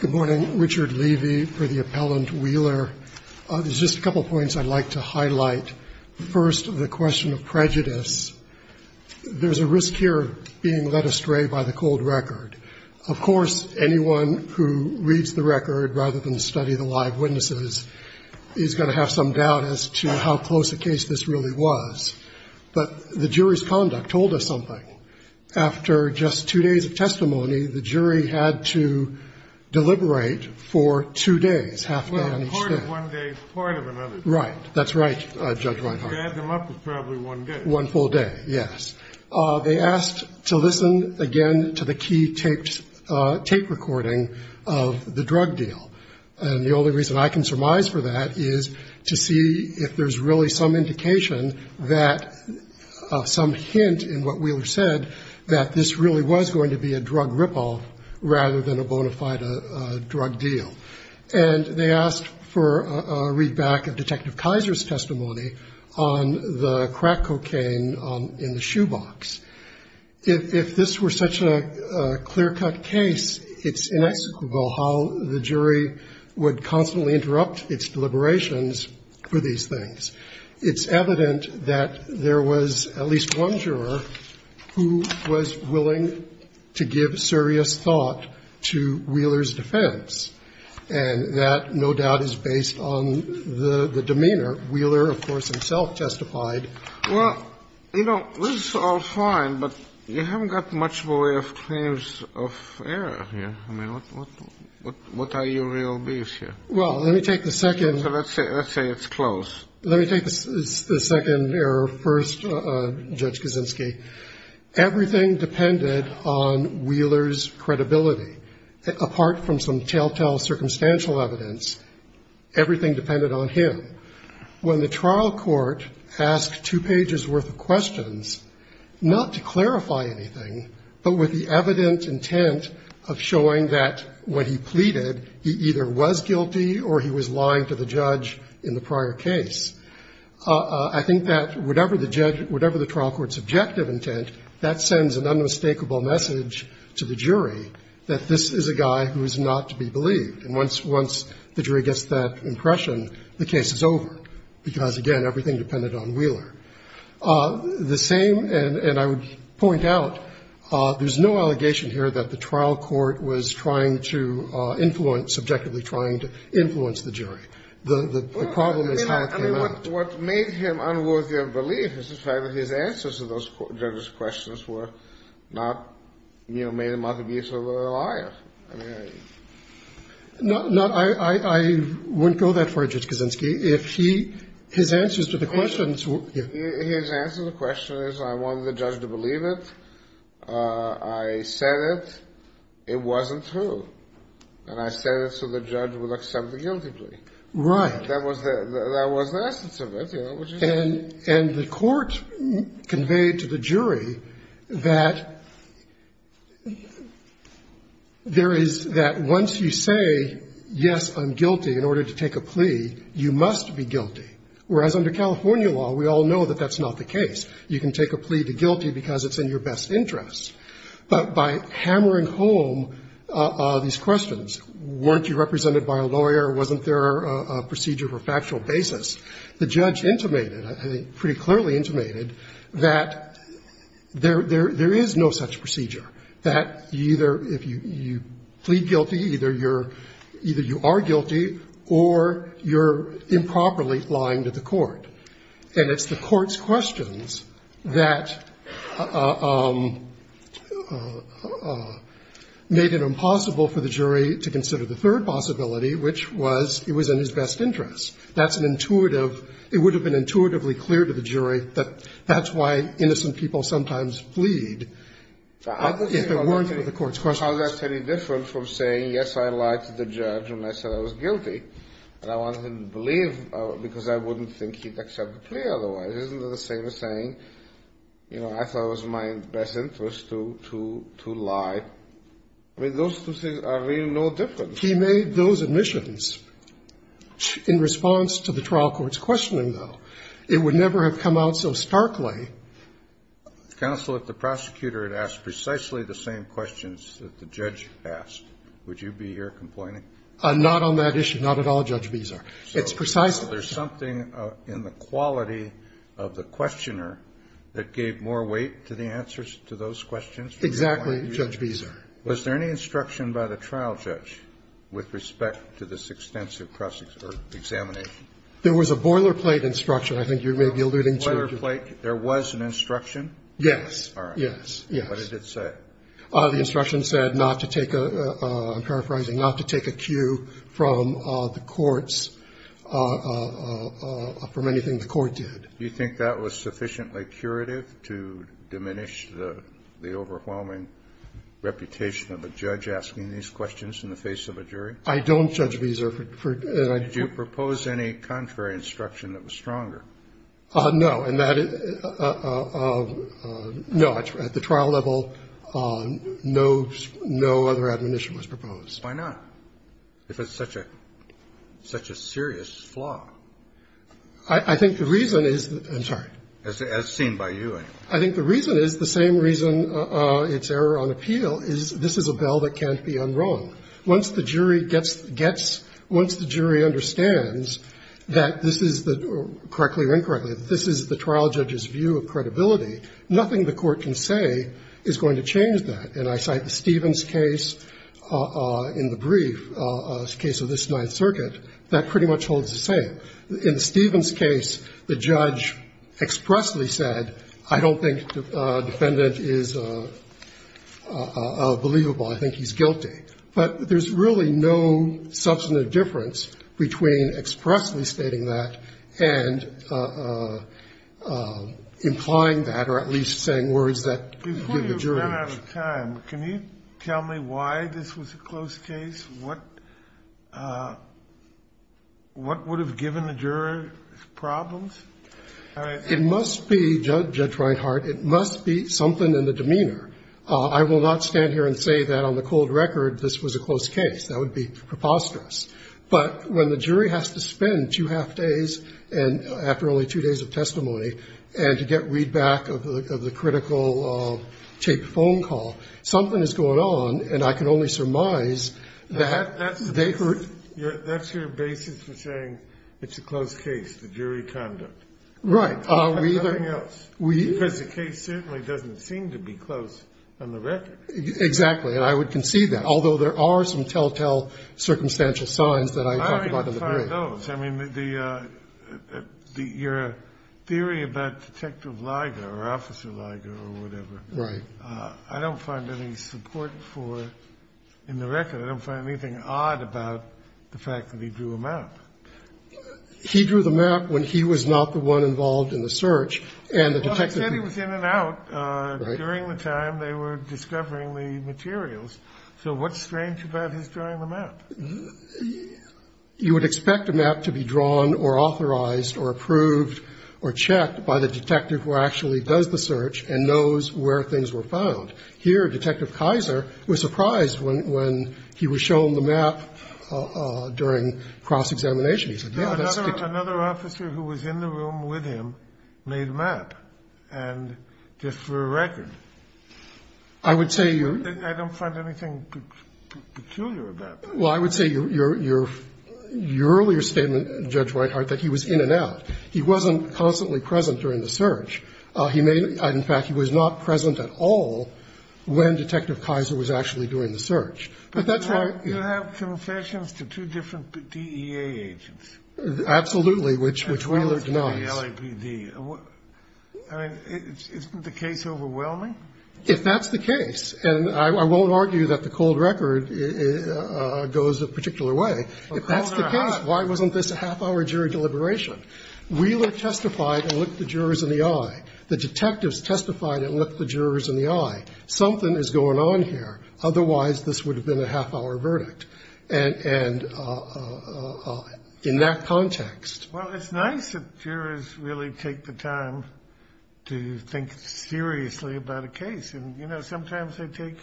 Good morning. Richard Levy for the Appellant Wheeler. There's just a couple of points I'd like to highlight. First, the question of prejudice. There's a risk here of being led astray by the cold record. Of course, anyone who reads the record rather than study the live witnesses is going to have some doubt as to how close a case this really was. But the jury's conduct told us something. After just two days of testimony, the jury had to deliberate for two days, half a day on each day. KENNEDY Well, a court of one day is part of another day. WHEELER Right. That's right, Judge Weinheim. KENNEDY You add them up, it's probably one day. WHEELER One full day, yes. They asked to listen again to the key tape recording of the drug deal. And the only reason I can surmise for that is to see if there's really some indication that, some hint in what Wheeler said, that this really was going to be a drug rip-off rather than a bona fide drug deal. And they asked for a read-back of Detective Kaiser's testimony on the crack cocaine in the shoebox. If this were such a clear-cut case, it's inexcusable how the jury would constantly interrupt its deliberations for these things. It's evident that there was at least one juror who was willing to give serious thought to Wheeler's defense. And that, no doubt, is based on the demeanor. Wheeler, of course, himself testified. KENNEDY Well, you know, this is all fine, but you haven't got much way of claims of error here. I mean, what are your real beliefs here? WHEELER Well, let me take the second. KENNEDY So let's say it's close. WHEELER Let me take the second error first, Judge Kaczynski. Everything depended on Wheeler's credibility. Apart from some telltale circumstantial evidence, everything depended on him. When the trial court asked two pages' worth of questions, not to clarify anything, but with the evident intent of showing that, when he pleaded, he either was guilty or he was lying to the judge in the prior case, I think that, whatever the trial court's objective intent, that sends an unmistakable message to the jury that this is a guy who is not to be believed. And once the jury gets that impression, the case is over, because, again, everything depended on Wheeler. The same, and I would point out, there's no allegation here that the trial court was trying to influence, subjectively trying to influence the jury. The problem KENNEDY I mean, what made him unworthy of belief is the fact that his answers to those questions were not, you know, made him out to be sort of a liar. I mean, I don't know. WHEELER I wouldn't go that far, Judge Kaczynski. If he, his answers to the questions is, I wanted the judge to believe it, I said it, it wasn't true, and I said it so the judge would accept the guilty plea. KENNEDY Right. WHEELER That was the essence of it. KENNEDY And the court conveyed to the jury that there is, that once you say, yes, I'm guilty, you can take a plea to guilty because it's in your best interest. But by hammering home these questions, weren't you represented by a lawyer, wasn't there a procedure for factual basis, the judge intimated, pretty clearly intimated, that there is no such procedure, that either you plead guilty, either you are guilty, or you're improperly presented to the court. And it's the court's questions that made it impossible for the jury to consider the third possibility, which was, it was in his best interest. That's an intuitive, it would have been intuitively clear to the jury that that's why innocent people sometimes plead if it weren't for the court's questions. KENNEDY How is that any different from saying, yes, I lied to the judge and I said I was guilty, but I didn't think he'd accept the plea otherwise? Isn't it the same as saying, you know, I thought it was in my best interest to lie? I mean, those two things are really no different. GERGEL He made those admissions. In response to the trial court's questioning, though, it would never have come out so starkly. KENNEDY Counsel, if the prosecutor had asked precisely the same questions that the judge asked, would you be here complaining? GERGEL I'm not on that issue, not at all, Judge Visar. It's precisely the same. KENNEDY In the quality of the questioner that gave more weight to the answers to those questions? GERGEL Exactly, Judge Visar. KENNEDY Was there any instruction by the trial judge with respect to this extensive cross-examination? GERGEL There was a boilerplate instruction, I think you may be alluding to. KENNEDY A boilerplate? There was an instruction? GERGEL Yes. KENNEDY All right. GERGEL Yes, yes. KENNEDY What did it say? GERGEL The instruction said not to take a, I'm paraphrasing, not to take a cue from the courts, from anything the court did. KENNEDY Do you think that was sufficiently curative to diminish the overwhelming reputation of a judge asking these questions in the face of a jury? GERGEL I don't, Judge Visar. KENNEDY Did you propose any contrary instruction that was stronger? GERGEL No. And that, no, at the trial level, no other admonition was proposed. KENNEDY Why not? If it's such a, such a serious flaw. GERGEL I think the reason is, I'm sorry. KENNEDY As seen by you. GERGEL I think the reason is the same reason it's error on appeal is this is a bell that can't be unwrung. Once the jury gets, gets, once the jury understands that this is the, correctly or incorrectly, that this is the trial judge's view of credibility, nothing the court can say is going to change that. And I cite the Stevens case in the brief, case of this Ninth Circuit, that pretty much holds the same. In the Stevens case, the judge expressly said, I don't think the defendant is believable, I think he's guilty. But there's really no substantive difference between expressly stating that and implying that, or at least saying words that give the jury. KENNEDY I'm running out of time. Can you tell me why this was a close case? What, what would have given the jury problems? GERGEL It must be, Judge Reinhart, it must be something in the demeanor. I will not stand here and say that on the cold record this was a close case. That would be preposterous. But when the jury has to spend two half days, and after only two days of testimony, and to get read back of the critical tape phone call, something is going on, and I can only surmise that they heard. KENNEDY That's your basis for saying it's a close case, the jury conduct. GERGEL Right. KENNEDY Nothing else. Because the case certainly doesn't seem to be close on the record. GERGEL Exactly. And I would concede that. Although there are some telltale circumstantial signs that I talked about in the brief. I mean, your theory about Detective Liger, or Officer Liger, or whatever, I don't find any support for it in the record. I don't find anything odd about the fact that he drew a map. GERGEL He drew the map when he was not the one involved in the search. And the detective... KENNEDY Well, I said he was in and out during the time they were discovering the materials. So what's strange about his drawing the map? You would expect a map to be drawn or authorized or approved or checked by the detective who actually does the search and knows where things were found. Here, Detective Kaiser was surprised when he was shown the map during cross-examination. He said, yeah, that's... KENNEDY Another officer who was in the room with him made a map, and just for a record. GERGEL I would say you... KENNEDY I don't find anything peculiar about that. Well, I would say your earlier statement, Judge Whitehart, that he was in and out. He wasn't constantly present during the search. In fact, he was not present at all when Detective Kaiser was actually doing the search. But that's why... GERGEL You have confessions to two different DEA agents. KENNEDY Absolutely, which Wheeler denies. GERGEL I mean, isn't the case overwhelming? KENNEDY If that's the case, and I won't argue that the cold record goes a particular way. If that's the case, why wasn't this a half-hour jury deliberation? Wheeler testified and looked the jurors in the eye. The detectives testified and looked the jurors in the eye. Something is going on here. Otherwise, this would have been a half-hour verdict. And in that context... And, you know, sometimes they take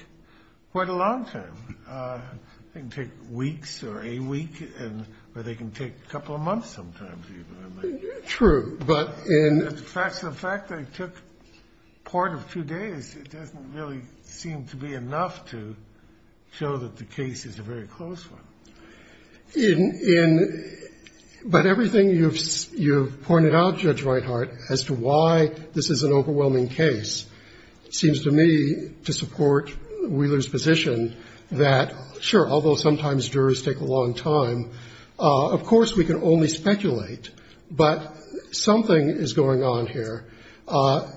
quite a long time. They can take weeks or a week, or they can take a couple of months sometimes even. But the fact of the fact that it took part of two days, it doesn't really seem to be enough to show that the case is a very close one. But everything you've pointed out, Judge Reinhart, as to why this is an overwhelming case, seems to me to support Wheeler's position that, sure, although sometimes jurors take a long time, of course we can only speculate, but something is going on here.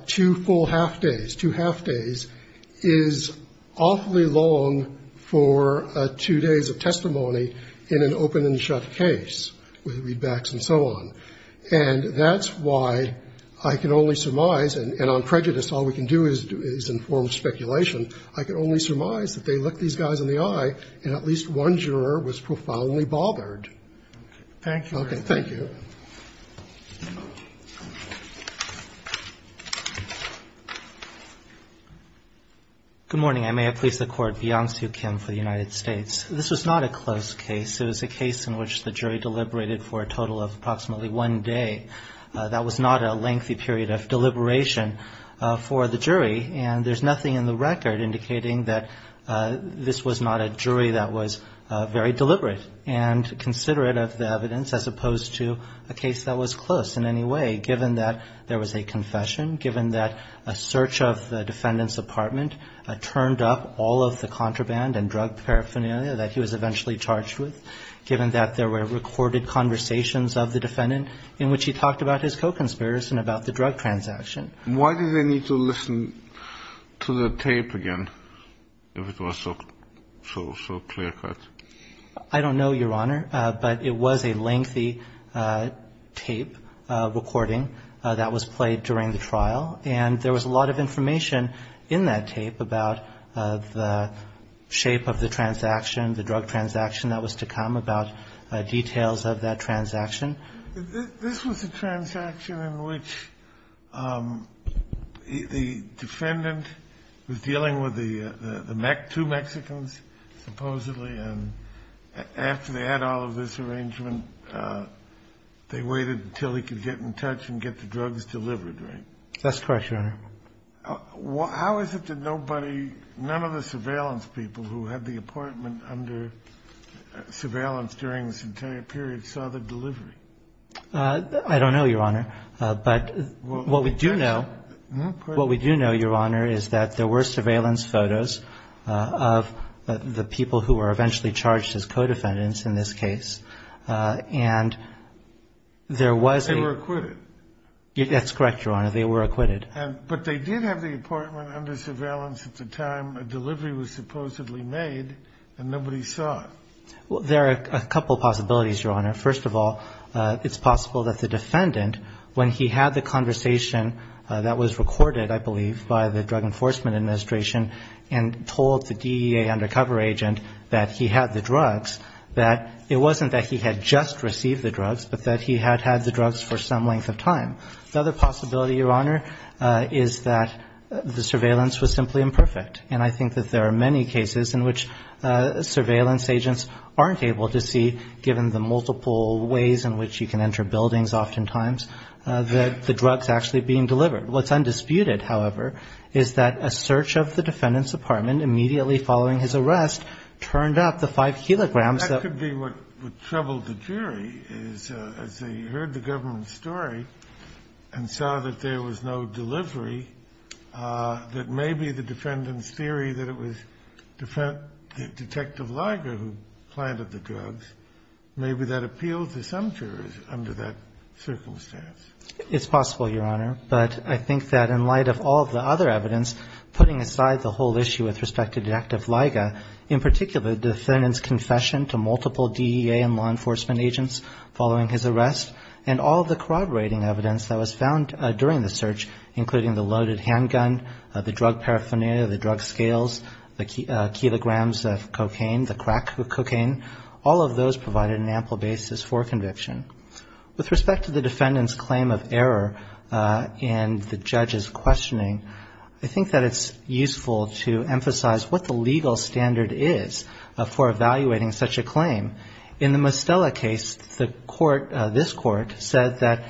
Two full half-days. Two half-days is awfully long for two days of testimony in an open-and-shut case with readbacks and so on. And that's why I can only surmise, and on prejudice all we can do is inform speculation, I can only surmise that they looked these guys in the eye and at least one juror was profoundly bothered. Thank you, Your Honor. Thank you. Good morning. I may have pleased the Court, Beyonce U. Kim for the United States. This was not a close case. It was a case in which the jury deliberated for a total of approximately one day. That was not a lengthy period of deliberation for the jury, and there's nothing in the record indicating that this was not a jury that was very deliberate and considerate of the evidence as opposed to a case that was close in any way, given that there was a confession, given that a search of the defendant's apartment turned up all of the contraband and drug paraphernalia that he was eventually charged with, given that there were recorded conversations of the defendant in which he talked about his co-conspirators and about the drug transaction. Why did they need to listen to the tape again if it was so clear-cut? I don't know, Your Honor, but it was a lengthy tape recording that was played during the trial, and there was a lot of information in that tape about the shape of the transaction, the drug transaction that was to come, about details of that transaction. This was a transaction in which the defendant was dealing with the two Mexicans, supposedly, and after they had all of this arrangement, they waited until he could get in touch and get the drugs delivered, right? That's correct, Your Honor. How is it that nobody, none of the surveillance people who had the apartment under surveillance during this entire period saw the delivery? I don't know, Your Honor, but what we do know, Your Honor, is that there were surveillance photos of the people who were eventually charged as co-defendants in this case, and there was a- They were acquitted. That's correct, Your Honor. They were acquitted. But they did have the apartment under surveillance at the time a delivery was supposedly made, and nobody saw it. There are a couple of possibilities, Your Honor. First of all, it's possible that the defendant, when he had the conversation that was recorded, I believe, by the Drug Enforcement Administration, and told the DEA undercover agent that he had the drugs, that it wasn't that he had just received the drugs, but that he had had the drugs for some length of time. The other possibility, Your Honor, is that the surveillance was simply imperfect, and I think that there are many cases in which surveillance agents aren't able to see, given the multiple ways in which you can enter buildings oftentimes, that the drugs are actually being delivered. What's undisputed, however, is that a search of the defendant's apartment immediately following his arrest turned up the five kilograms that- That could be what troubled the jury, is as they heard the government's story and saw that there was no delivery, that maybe the defendant's theory that it was Detective Liger who planted the drugs, maybe that appealed to some jurors under that circumstance. It's possible, Your Honor, but I think that in light of all the other evidence putting aside the whole issue with respect to Detective Liger, in particular, the defendant's confession to multiple DEA and law enforcement agents following his arrest, and all the corroborating evidence that was found during the search, including the loaded handgun, the drug paraphernalia, the drug scales, the kilograms of cocaine, the crack of cocaine, all of those provided an ample basis for conviction. With respect to the defendant's claim of error and the judge's questioning, I think that it's useful to emphasize what the legal standard is for evaluating such a claim. In the Mostella case, the court, this court, said that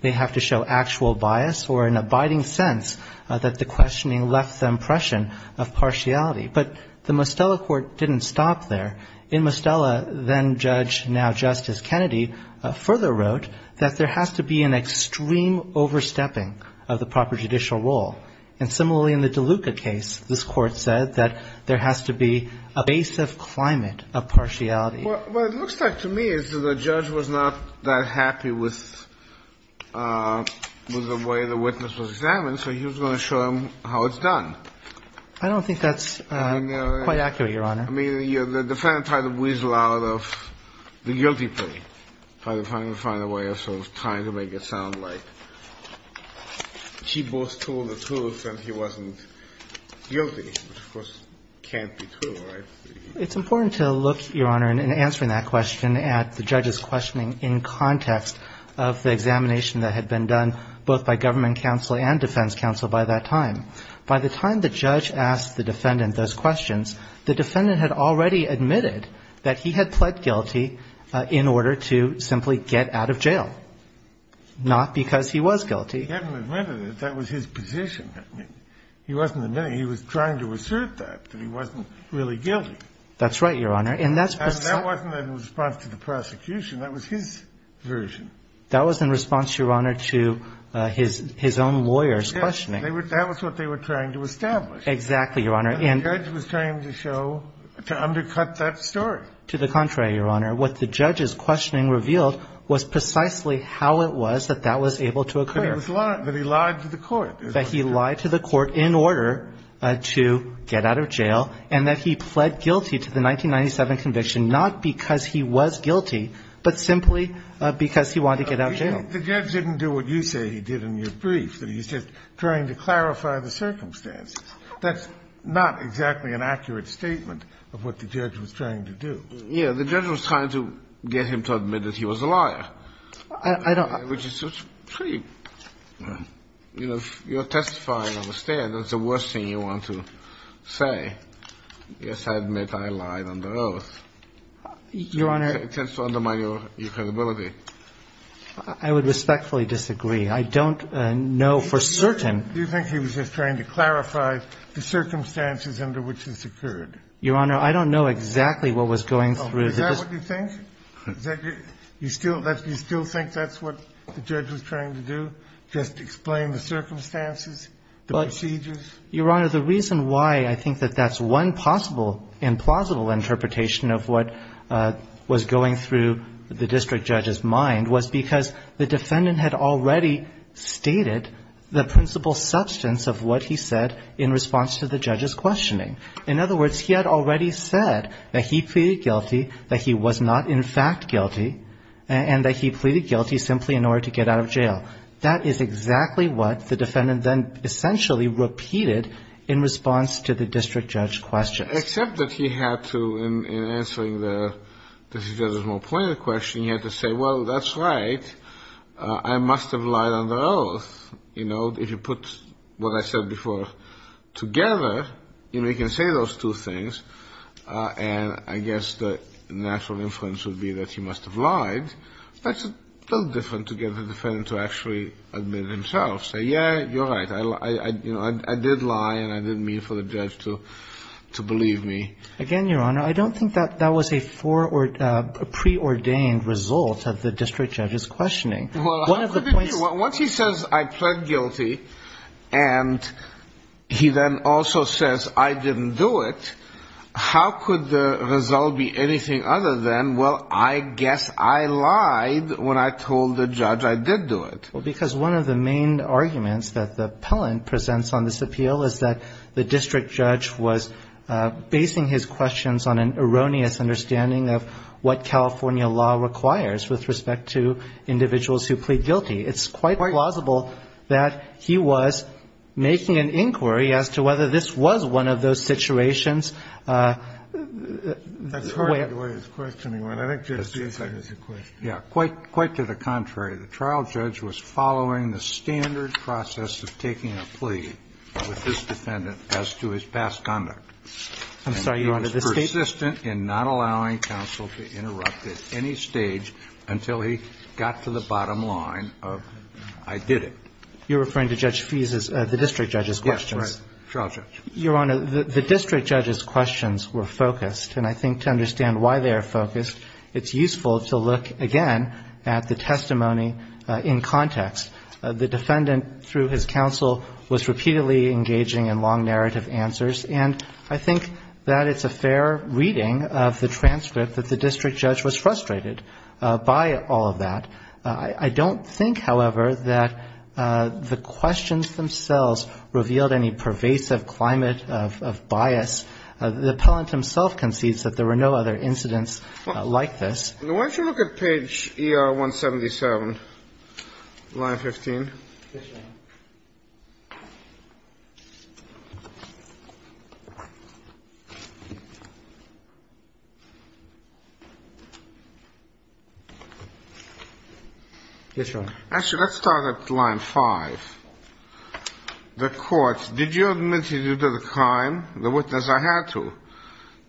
they have to show actual bias or an abiding sense that the questioning left the impression of partiality. But the Mostella court didn't stop there. In Mostella, then-judge, now-Justice Kennedy, further wrote that there has to be an extreme overstepping of the proper judicial role. And similarly, in the DeLuca case, this court said that there has to be a base of climate of partiality. What it looks like to me is that the judge was not that happy with the way the witness was examined, so he was going to show them how it's done. I don't think that's quite accurate, Your Honor. I mean, the defendant tried to weasel out of the guilty plea. Tried to find a way of sort of trying to make it sound like she both told the truth and he wasn't guilty, which, of course, can't be true. It's important to look, Your Honor, in answering that question at the judge's questioning in context of the examination that had been done both by government counsel and defense counsel by that time. By the time the judge asked the defendant those questions, the defendant had already admitted that he had pled guilty in order to simply get out of jail, not because he was guilty. He hadn't admitted it. That was his position. He wasn't admitting it. He was trying to assert that, that he wasn't really guilty. That's right, Your Honor. And that wasn't in response to the prosecution. That was his version. That was in response, Your Honor, to his own lawyer's questioning. That was what they were trying to establish. Exactly, Your Honor. And the judge was trying to show, to undercut that story. To the contrary, Your Honor. What the judge's questioning revealed was precisely how it was that that was able to occur. That he lied to the court. That he lied to the court in order to get out of jail and that he pled guilty to the 1997 conviction, not because he was guilty, but simply because he wanted to get out of jail. The judge didn't do what you say he did in your brief, that he's just trying to clarify the circumstances. That's not exactly an accurate statement of what the judge was trying to do. Yeah, the judge was trying to get him to admit that he was a liar. I don't... Which is pretty, you know, you're testifying on the stand. That's the worst thing you want to say. Yes, I admit I lied on the oath. Your Honor... It tends to undermine your credibility. I would respectfully disagree. I don't know for certain... Do you think he was just trying to clarify the circumstances under which this occurred? Your Honor, I don't know exactly what was going through... Is that what you think? You still think that's what the judge was trying to do? Just explain the circumstances? The procedures? Your Honor, the reason why I think that that's one possible and plausible interpretation of what was going through the district judge's mind was because the defendant had already stated the principal substance of what he said in response to the judge's questioning. In other words, he had already said that he pleaded guilty, that he was not in fact guilty, and that he pleaded guilty simply in order to get out of jail. That is exactly what the defendant then essentially repeated in response to the district judge's questions. Except that he had to, in answering the district judge's more pointed question, he had to say, well, that's right, I must have lied on the oath. If you put what I said before together, you can say those two things, that's a little different to get the defendant to actually admit it himself. Say, yeah, you're right, I did lie, and I didn't mean for the judge to believe me. Again, Your Honor, I don't think that was a preordained result of the district judge's questioning. Well, how could it be? Once he says, I pled guilty, and he then also says, I didn't do it, how could the result be anything other than, well, I guess I lied when I told the judge I did do it? Well, because one of the main arguments that the appellant presents on this appeal is that the district judge was basing his questions on an erroneous understanding of what California law requires with respect to individuals who plead guilty. It's quite plausible that he was making an inquiry as to whether this was one of those situations. That's part of the way his questioning went. I think Judge Fiesa has a question. Yeah. Quite to the contrary. The trial judge was following the standard process of taking a plea with this defendant as to his past conduct. I'm sorry, Your Honor, this state? And he was persistent in not allowing counsel to interrupt at any stage until he got to the bottom line of, I did it. You're referring to Judge Fiesa's, the district judge's questions. Yes, right. Trial judge. Your Honor, the district judge's questions were focused and I think to understand why they are focused, it's useful to look again at the testimony in context. The defendant, through his counsel, was repeatedly engaging in long narrative answers and I think that it's a fair reading of the transcript that the district judge was frustrated by all of that. I don't think, however, that the questions themselves revealed any pervasive climate of bias. The appellant himself concedes that there were no other incidents like this. Why don't you look at page ER 177, line 15. Yes, Your Honor. Yes, Your Honor. Actually, let's start at line 5. The court, did you admit to the crime? The witness, I had to.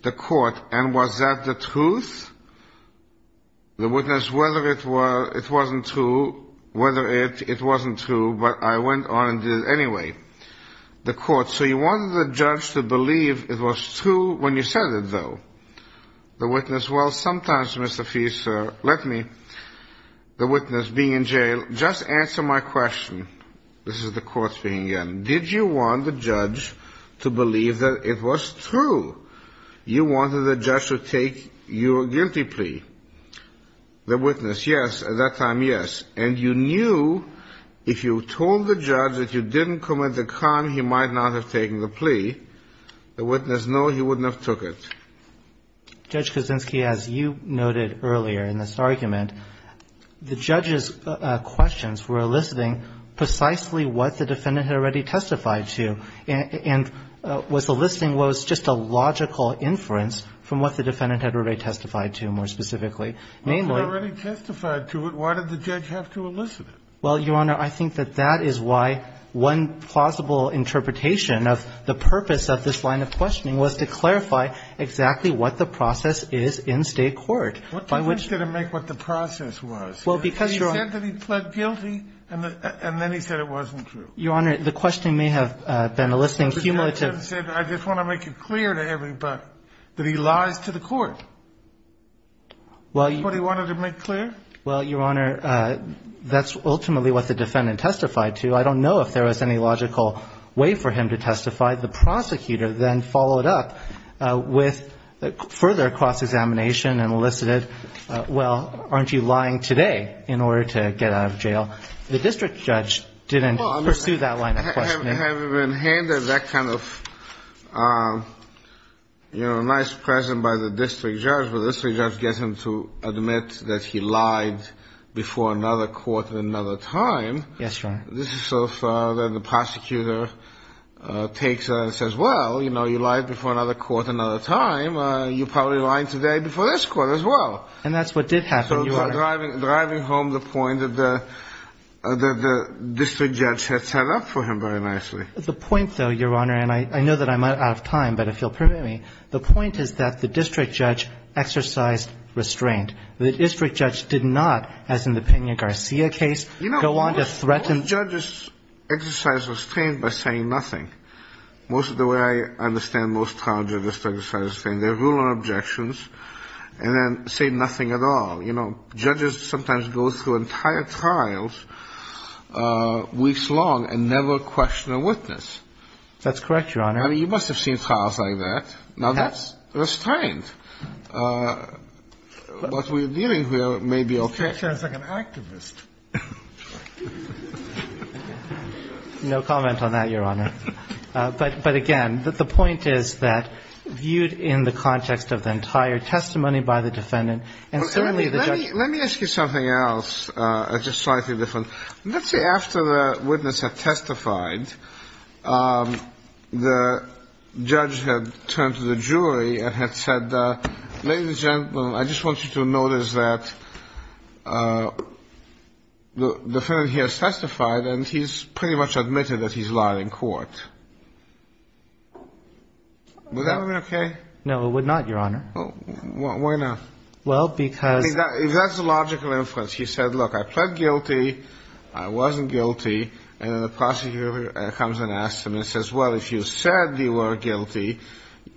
The court, and was that the truth? The witness, whether it wasn't true, whether it wasn't true, but I went on and did it anyway. The court, so you wanted the judge to believe it was true when you said it, though? The witness, well, sometimes, Mr. Fiesa, let me. The witness, being in jail, just answer my question. This is the court speaking again. Did you want the judge to believe that it was true? You wanted the judge to take your guilty plea. The witness, yes, at that time, yes. And you knew if you told the judge that you didn't commit the crime, he might not have taken the plea. The witness, no, he wouldn't have took it. Judge Kuczynski, as you noted earlier in this argument, the judge's questions were eliciting precisely what the defendant had already testified to and was eliciting what was just a logical inference from what the defendant had already testified to, more specifically. If it already testified to it, why did the judge have to elicit it? Well, Your Honor, I think that that is why one plausible interpretation of the purpose of this line of questioning was to clarify exactly what the process is in state court. What difference did it make what the process was? He said that he pled guilty, and then he said it wasn't true. Your Honor, the question may have been eliciting cumulative... The defendant said, I just want to make it clear to everybody that he lies to the court. Is that what he wanted to make clear? Well, Your Honor, that's ultimately what the defendant testified to. I don't know if there was any logical way for him to testify. The prosecutor then followed up with further cross-examination and elicited, well, aren't you lying today in order to get out of jail? The district judge didn't pursue that line of questioning. Having been handed that kind of, you know, nice present by the district judge, the district judge gets him to admit that he lied before another court at another time. Yes, Your Honor. This is so far that the prosecutor takes and says, well, you know, you lied before another court another time. You're probably lying today before this court as well. And that's what did happen, Your Honor. So driving home the point that the district judge had set up for him very nicely. The point, though, Your Honor, and I know that I'm out of time, but if you'll permit me, the point is that the district judge exercised restraint. The district judge did not, as in the Pena-Garcia case, go on to threaten... You know, most judges exercise restraint by saying nothing. Most of the way I understand most trial judges exercise restraint, they rule on objections and then say nothing at all. You know, judges sometimes go through entire trials weeks long and never question a witness. That's correct, Your Honor. I mean, you must have seen trials like that. Now, that's restraint. What we're dealing with may be okay. That sounds like an activist. No comment on that, Your Honor. But, again, the point is that viewed in the context of the entire testimony by the defendant and certainly the judge... Let me ask you something else, just slightly different. Let's say after the witness had testified, the judge had turned to the jury and had said, ladies and gentlemen, I just want you to notice that the defendant here has testified and he's pretty much admitted that he's lying in court. Would that have been okay? No, it would not, Your Honor. Why not? Well, because... That's a logical inference. He said, look, I pled guilty, I wasn't guilty, and then the prosecutor comes and asks him and says, well, if you said you were guilty,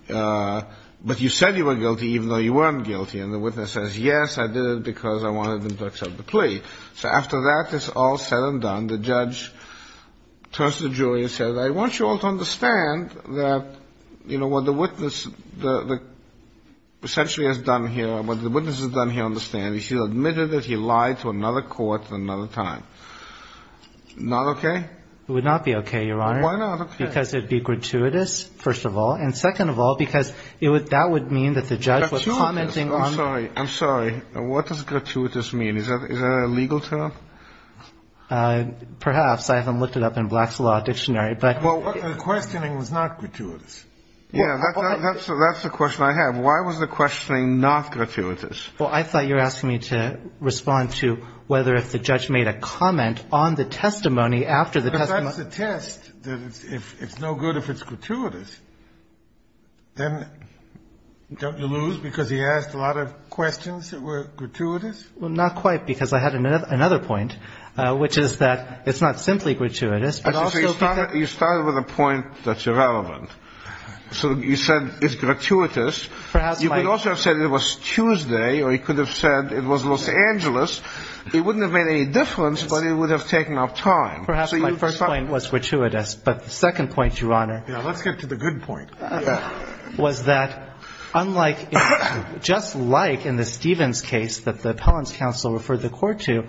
but you said you were guilty even though you weren't guilty, and the witness says, yes, I did it because I wanted them to accept the plea. So after that is all said and done, the judge turns to the jury and says, I want you all to understand that, you know, what the witness essentially has done here, what the witness has done here on the stand, he's admitted that he lied to another court at another time. Not okay? It would not be okay, Your Honor. Why not? Because it would be gratuitous, first of all, and second of all, because that would mean that the judge was commenting on... Gratuitous. I'm sorry. I'm sorry. What does gratuitous mean? Is that a legal term? Perhaps. I haven't looked it up in Black's Law Dictionary, but... Well, the questioning was not gratuitous. Yeah, that's the question I have. Why was the questioning not gratuitous? Well, I thought you were asking me to respond to whether if the judge made a comment on the testimony after the testimony... But that's the test. It's no good if it's gratuitous. Then don't you lose, because he asked a lot of questions that were gratuitous? Well, not quite, because I had another point, which is that it's not simply gratuitous, but also... You started with a point that's irrelevant. So you said it's gratuitous. Perhaps my... You could also have said it was Tuesday, or you could have said it was Los Angeles. It wouldn't have made any difference, but it would have taken up time. Perhaps my first point was gratuitous, but the second point, Your Honor... Yeah, let's get to the good point. ...was that unlike, just like in the Stevens case that the appellant's counsel referred the court to,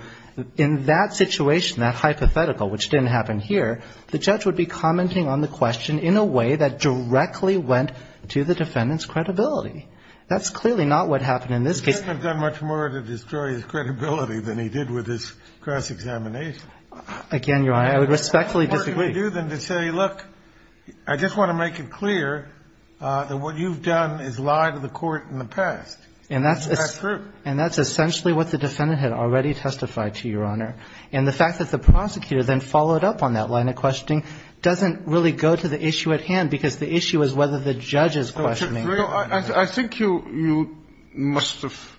in that situation, that hypothetical, which didn't happen here, the judge would be commenting on the question in a way that directly went to the defendant's credibility. That's clearly not what happened in this case. The defendant's done much more to destroy his credibility than he did with his cross-examination. Again, Your Honor, I would respectfully disagree. What are you going to do then to say, look, I just want to make it clear that what you've done is lied to the court in the past. And that's... That's true. And that's essentially what the defendant had already testified to, Your Honor. And the fact that the prosecutor then followed up on that line of questioning doesn't really go to the issue at hand because the issue is whether the judge is questioning... I think you must have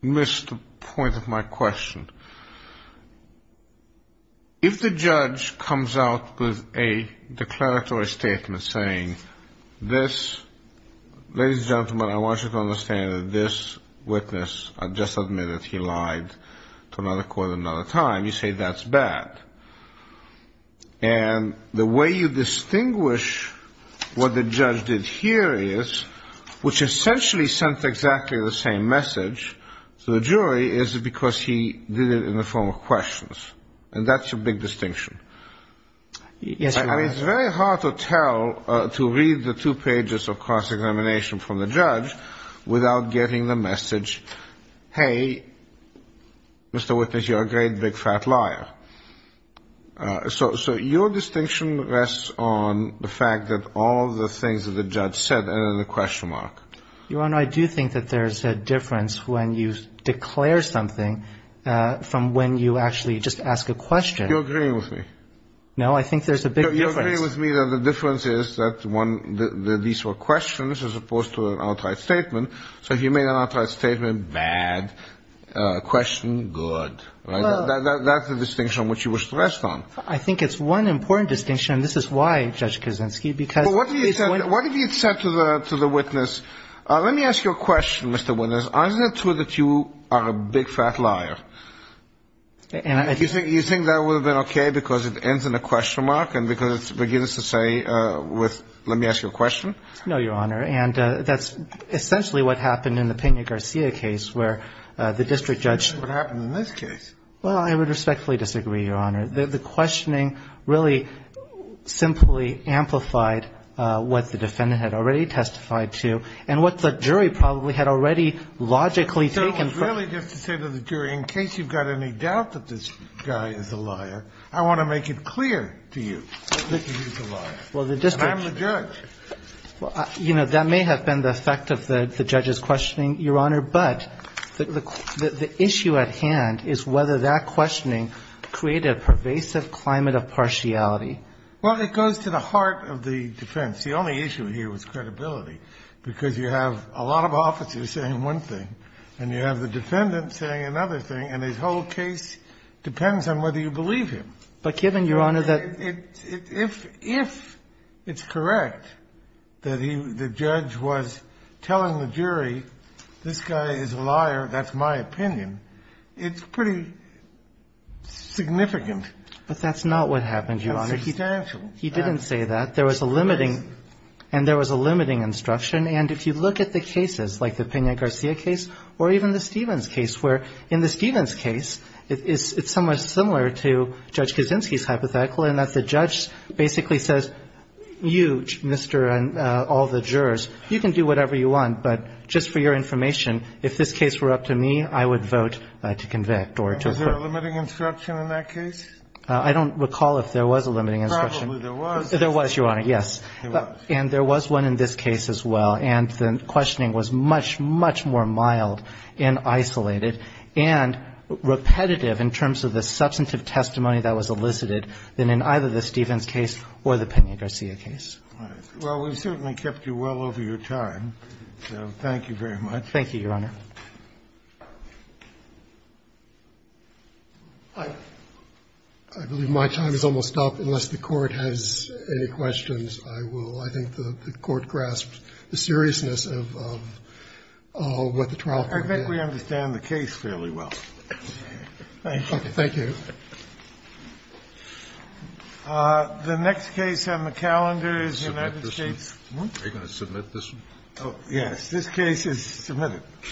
missed the point of my question. If the judge comes out with a declaratory statement saying, this, ladies and gentlemen, I want you to understand that this witness just admitted he lied to another court another time, you say that's bad. And the way you distinguish what the judge did here is, which essentially sent exactly the same message to the jury, is because he did it in the form of questions. And that's your big distinction. Yes, Your Honor. I mean, it's very hard to tell, to read the two pages of cross-examination from the judge without getting the message, hey, Mr. Witness, you're a great big fat liar. So your distinction rests on the fact that all the things that the judge said are in the question mark. Your Honor, I do think that there's a difference when you declare something from when you actually just ask a question. You're agreeing with me. No, I think there's a big difference. You're agreeing with me that the difference is that these were questions as opposed to an outright statement. So if you made an outright statement, bad, question, good. That's the distinction on which you were stressed on. I think it's one important distinction. And this is why, Judge Kaczynski. What have you said to the witness? Let me ask you a question, Mr. Witness. Isn't it true that you are a big fat liar? You think that would have been okay because it ends in a question mark? And because it begins to say, let me ask you a question? No, Your Honor. And that's essentially what happened in the Pena-Garcia case where the district judge – That's what happened in this case. Well, I would respectfully disagree, Your Honor. The questioning really simply amplified what the defendant had already testified to and what the jury probably had already logically taken from – So it was really just to say to the jury, in case you've got any doubt that this guy is a liar, I want to make it clear to you that he is a liar. Well, the district – And I'm the judge. Well, you know, that may have been the effect of the judge's questioning, Your Honor, but the issue at hand is whether that questioning created a pervasive climate of partiality. Well, it goes to the heart of the defense. The only issue here was credibility because you have a lot of officers saying one thing and you have the defendant saying another thing, and his whole case depends on whether you believe him. But given, Your Honor, that – If it's correct that the judge was telling the jury, this guy is a liar, that's my opinion, it's pretty significant. But that's not what happened, Your Honor. It's substantial. He didn't say that. There was a limiting – And there was a limiting instruction. And if you look at the cases, like the Pena-Garcia case or even the Stevens case, where in the Stevens case, it's somewhat similar to Judge Kaczynski's hypothetical in that the judge basically says, you, Mr. and all the jurors, you can do whatever you want, but just for your information, if this case were up to me, I would vote to convict or to acquit. Was there a limiting instruction in that case? I don't recall if there was a limiting instruction. Probably there was. There was, Your Honor, yes. There was. And there was one in this case as well, and the questioning was much, much more mild and isolated and repetitive in terms of the substantive testimony that was elicited than in either the Stevens case or the Pena-Garcia case. All right. Well, we've certainly kept you well over your time, so thank you very much. Thank you, Your Honor. I believe my time has almost stopped. Unless the Court has any questions, I will. I think the Court grasped the seriousness of what the trial court did. I think we understand the case fairly well. Thank you. Okay. Thank you. The next case on the calendar is the United States. Are you going to submit this one? Yes. This case is submitted.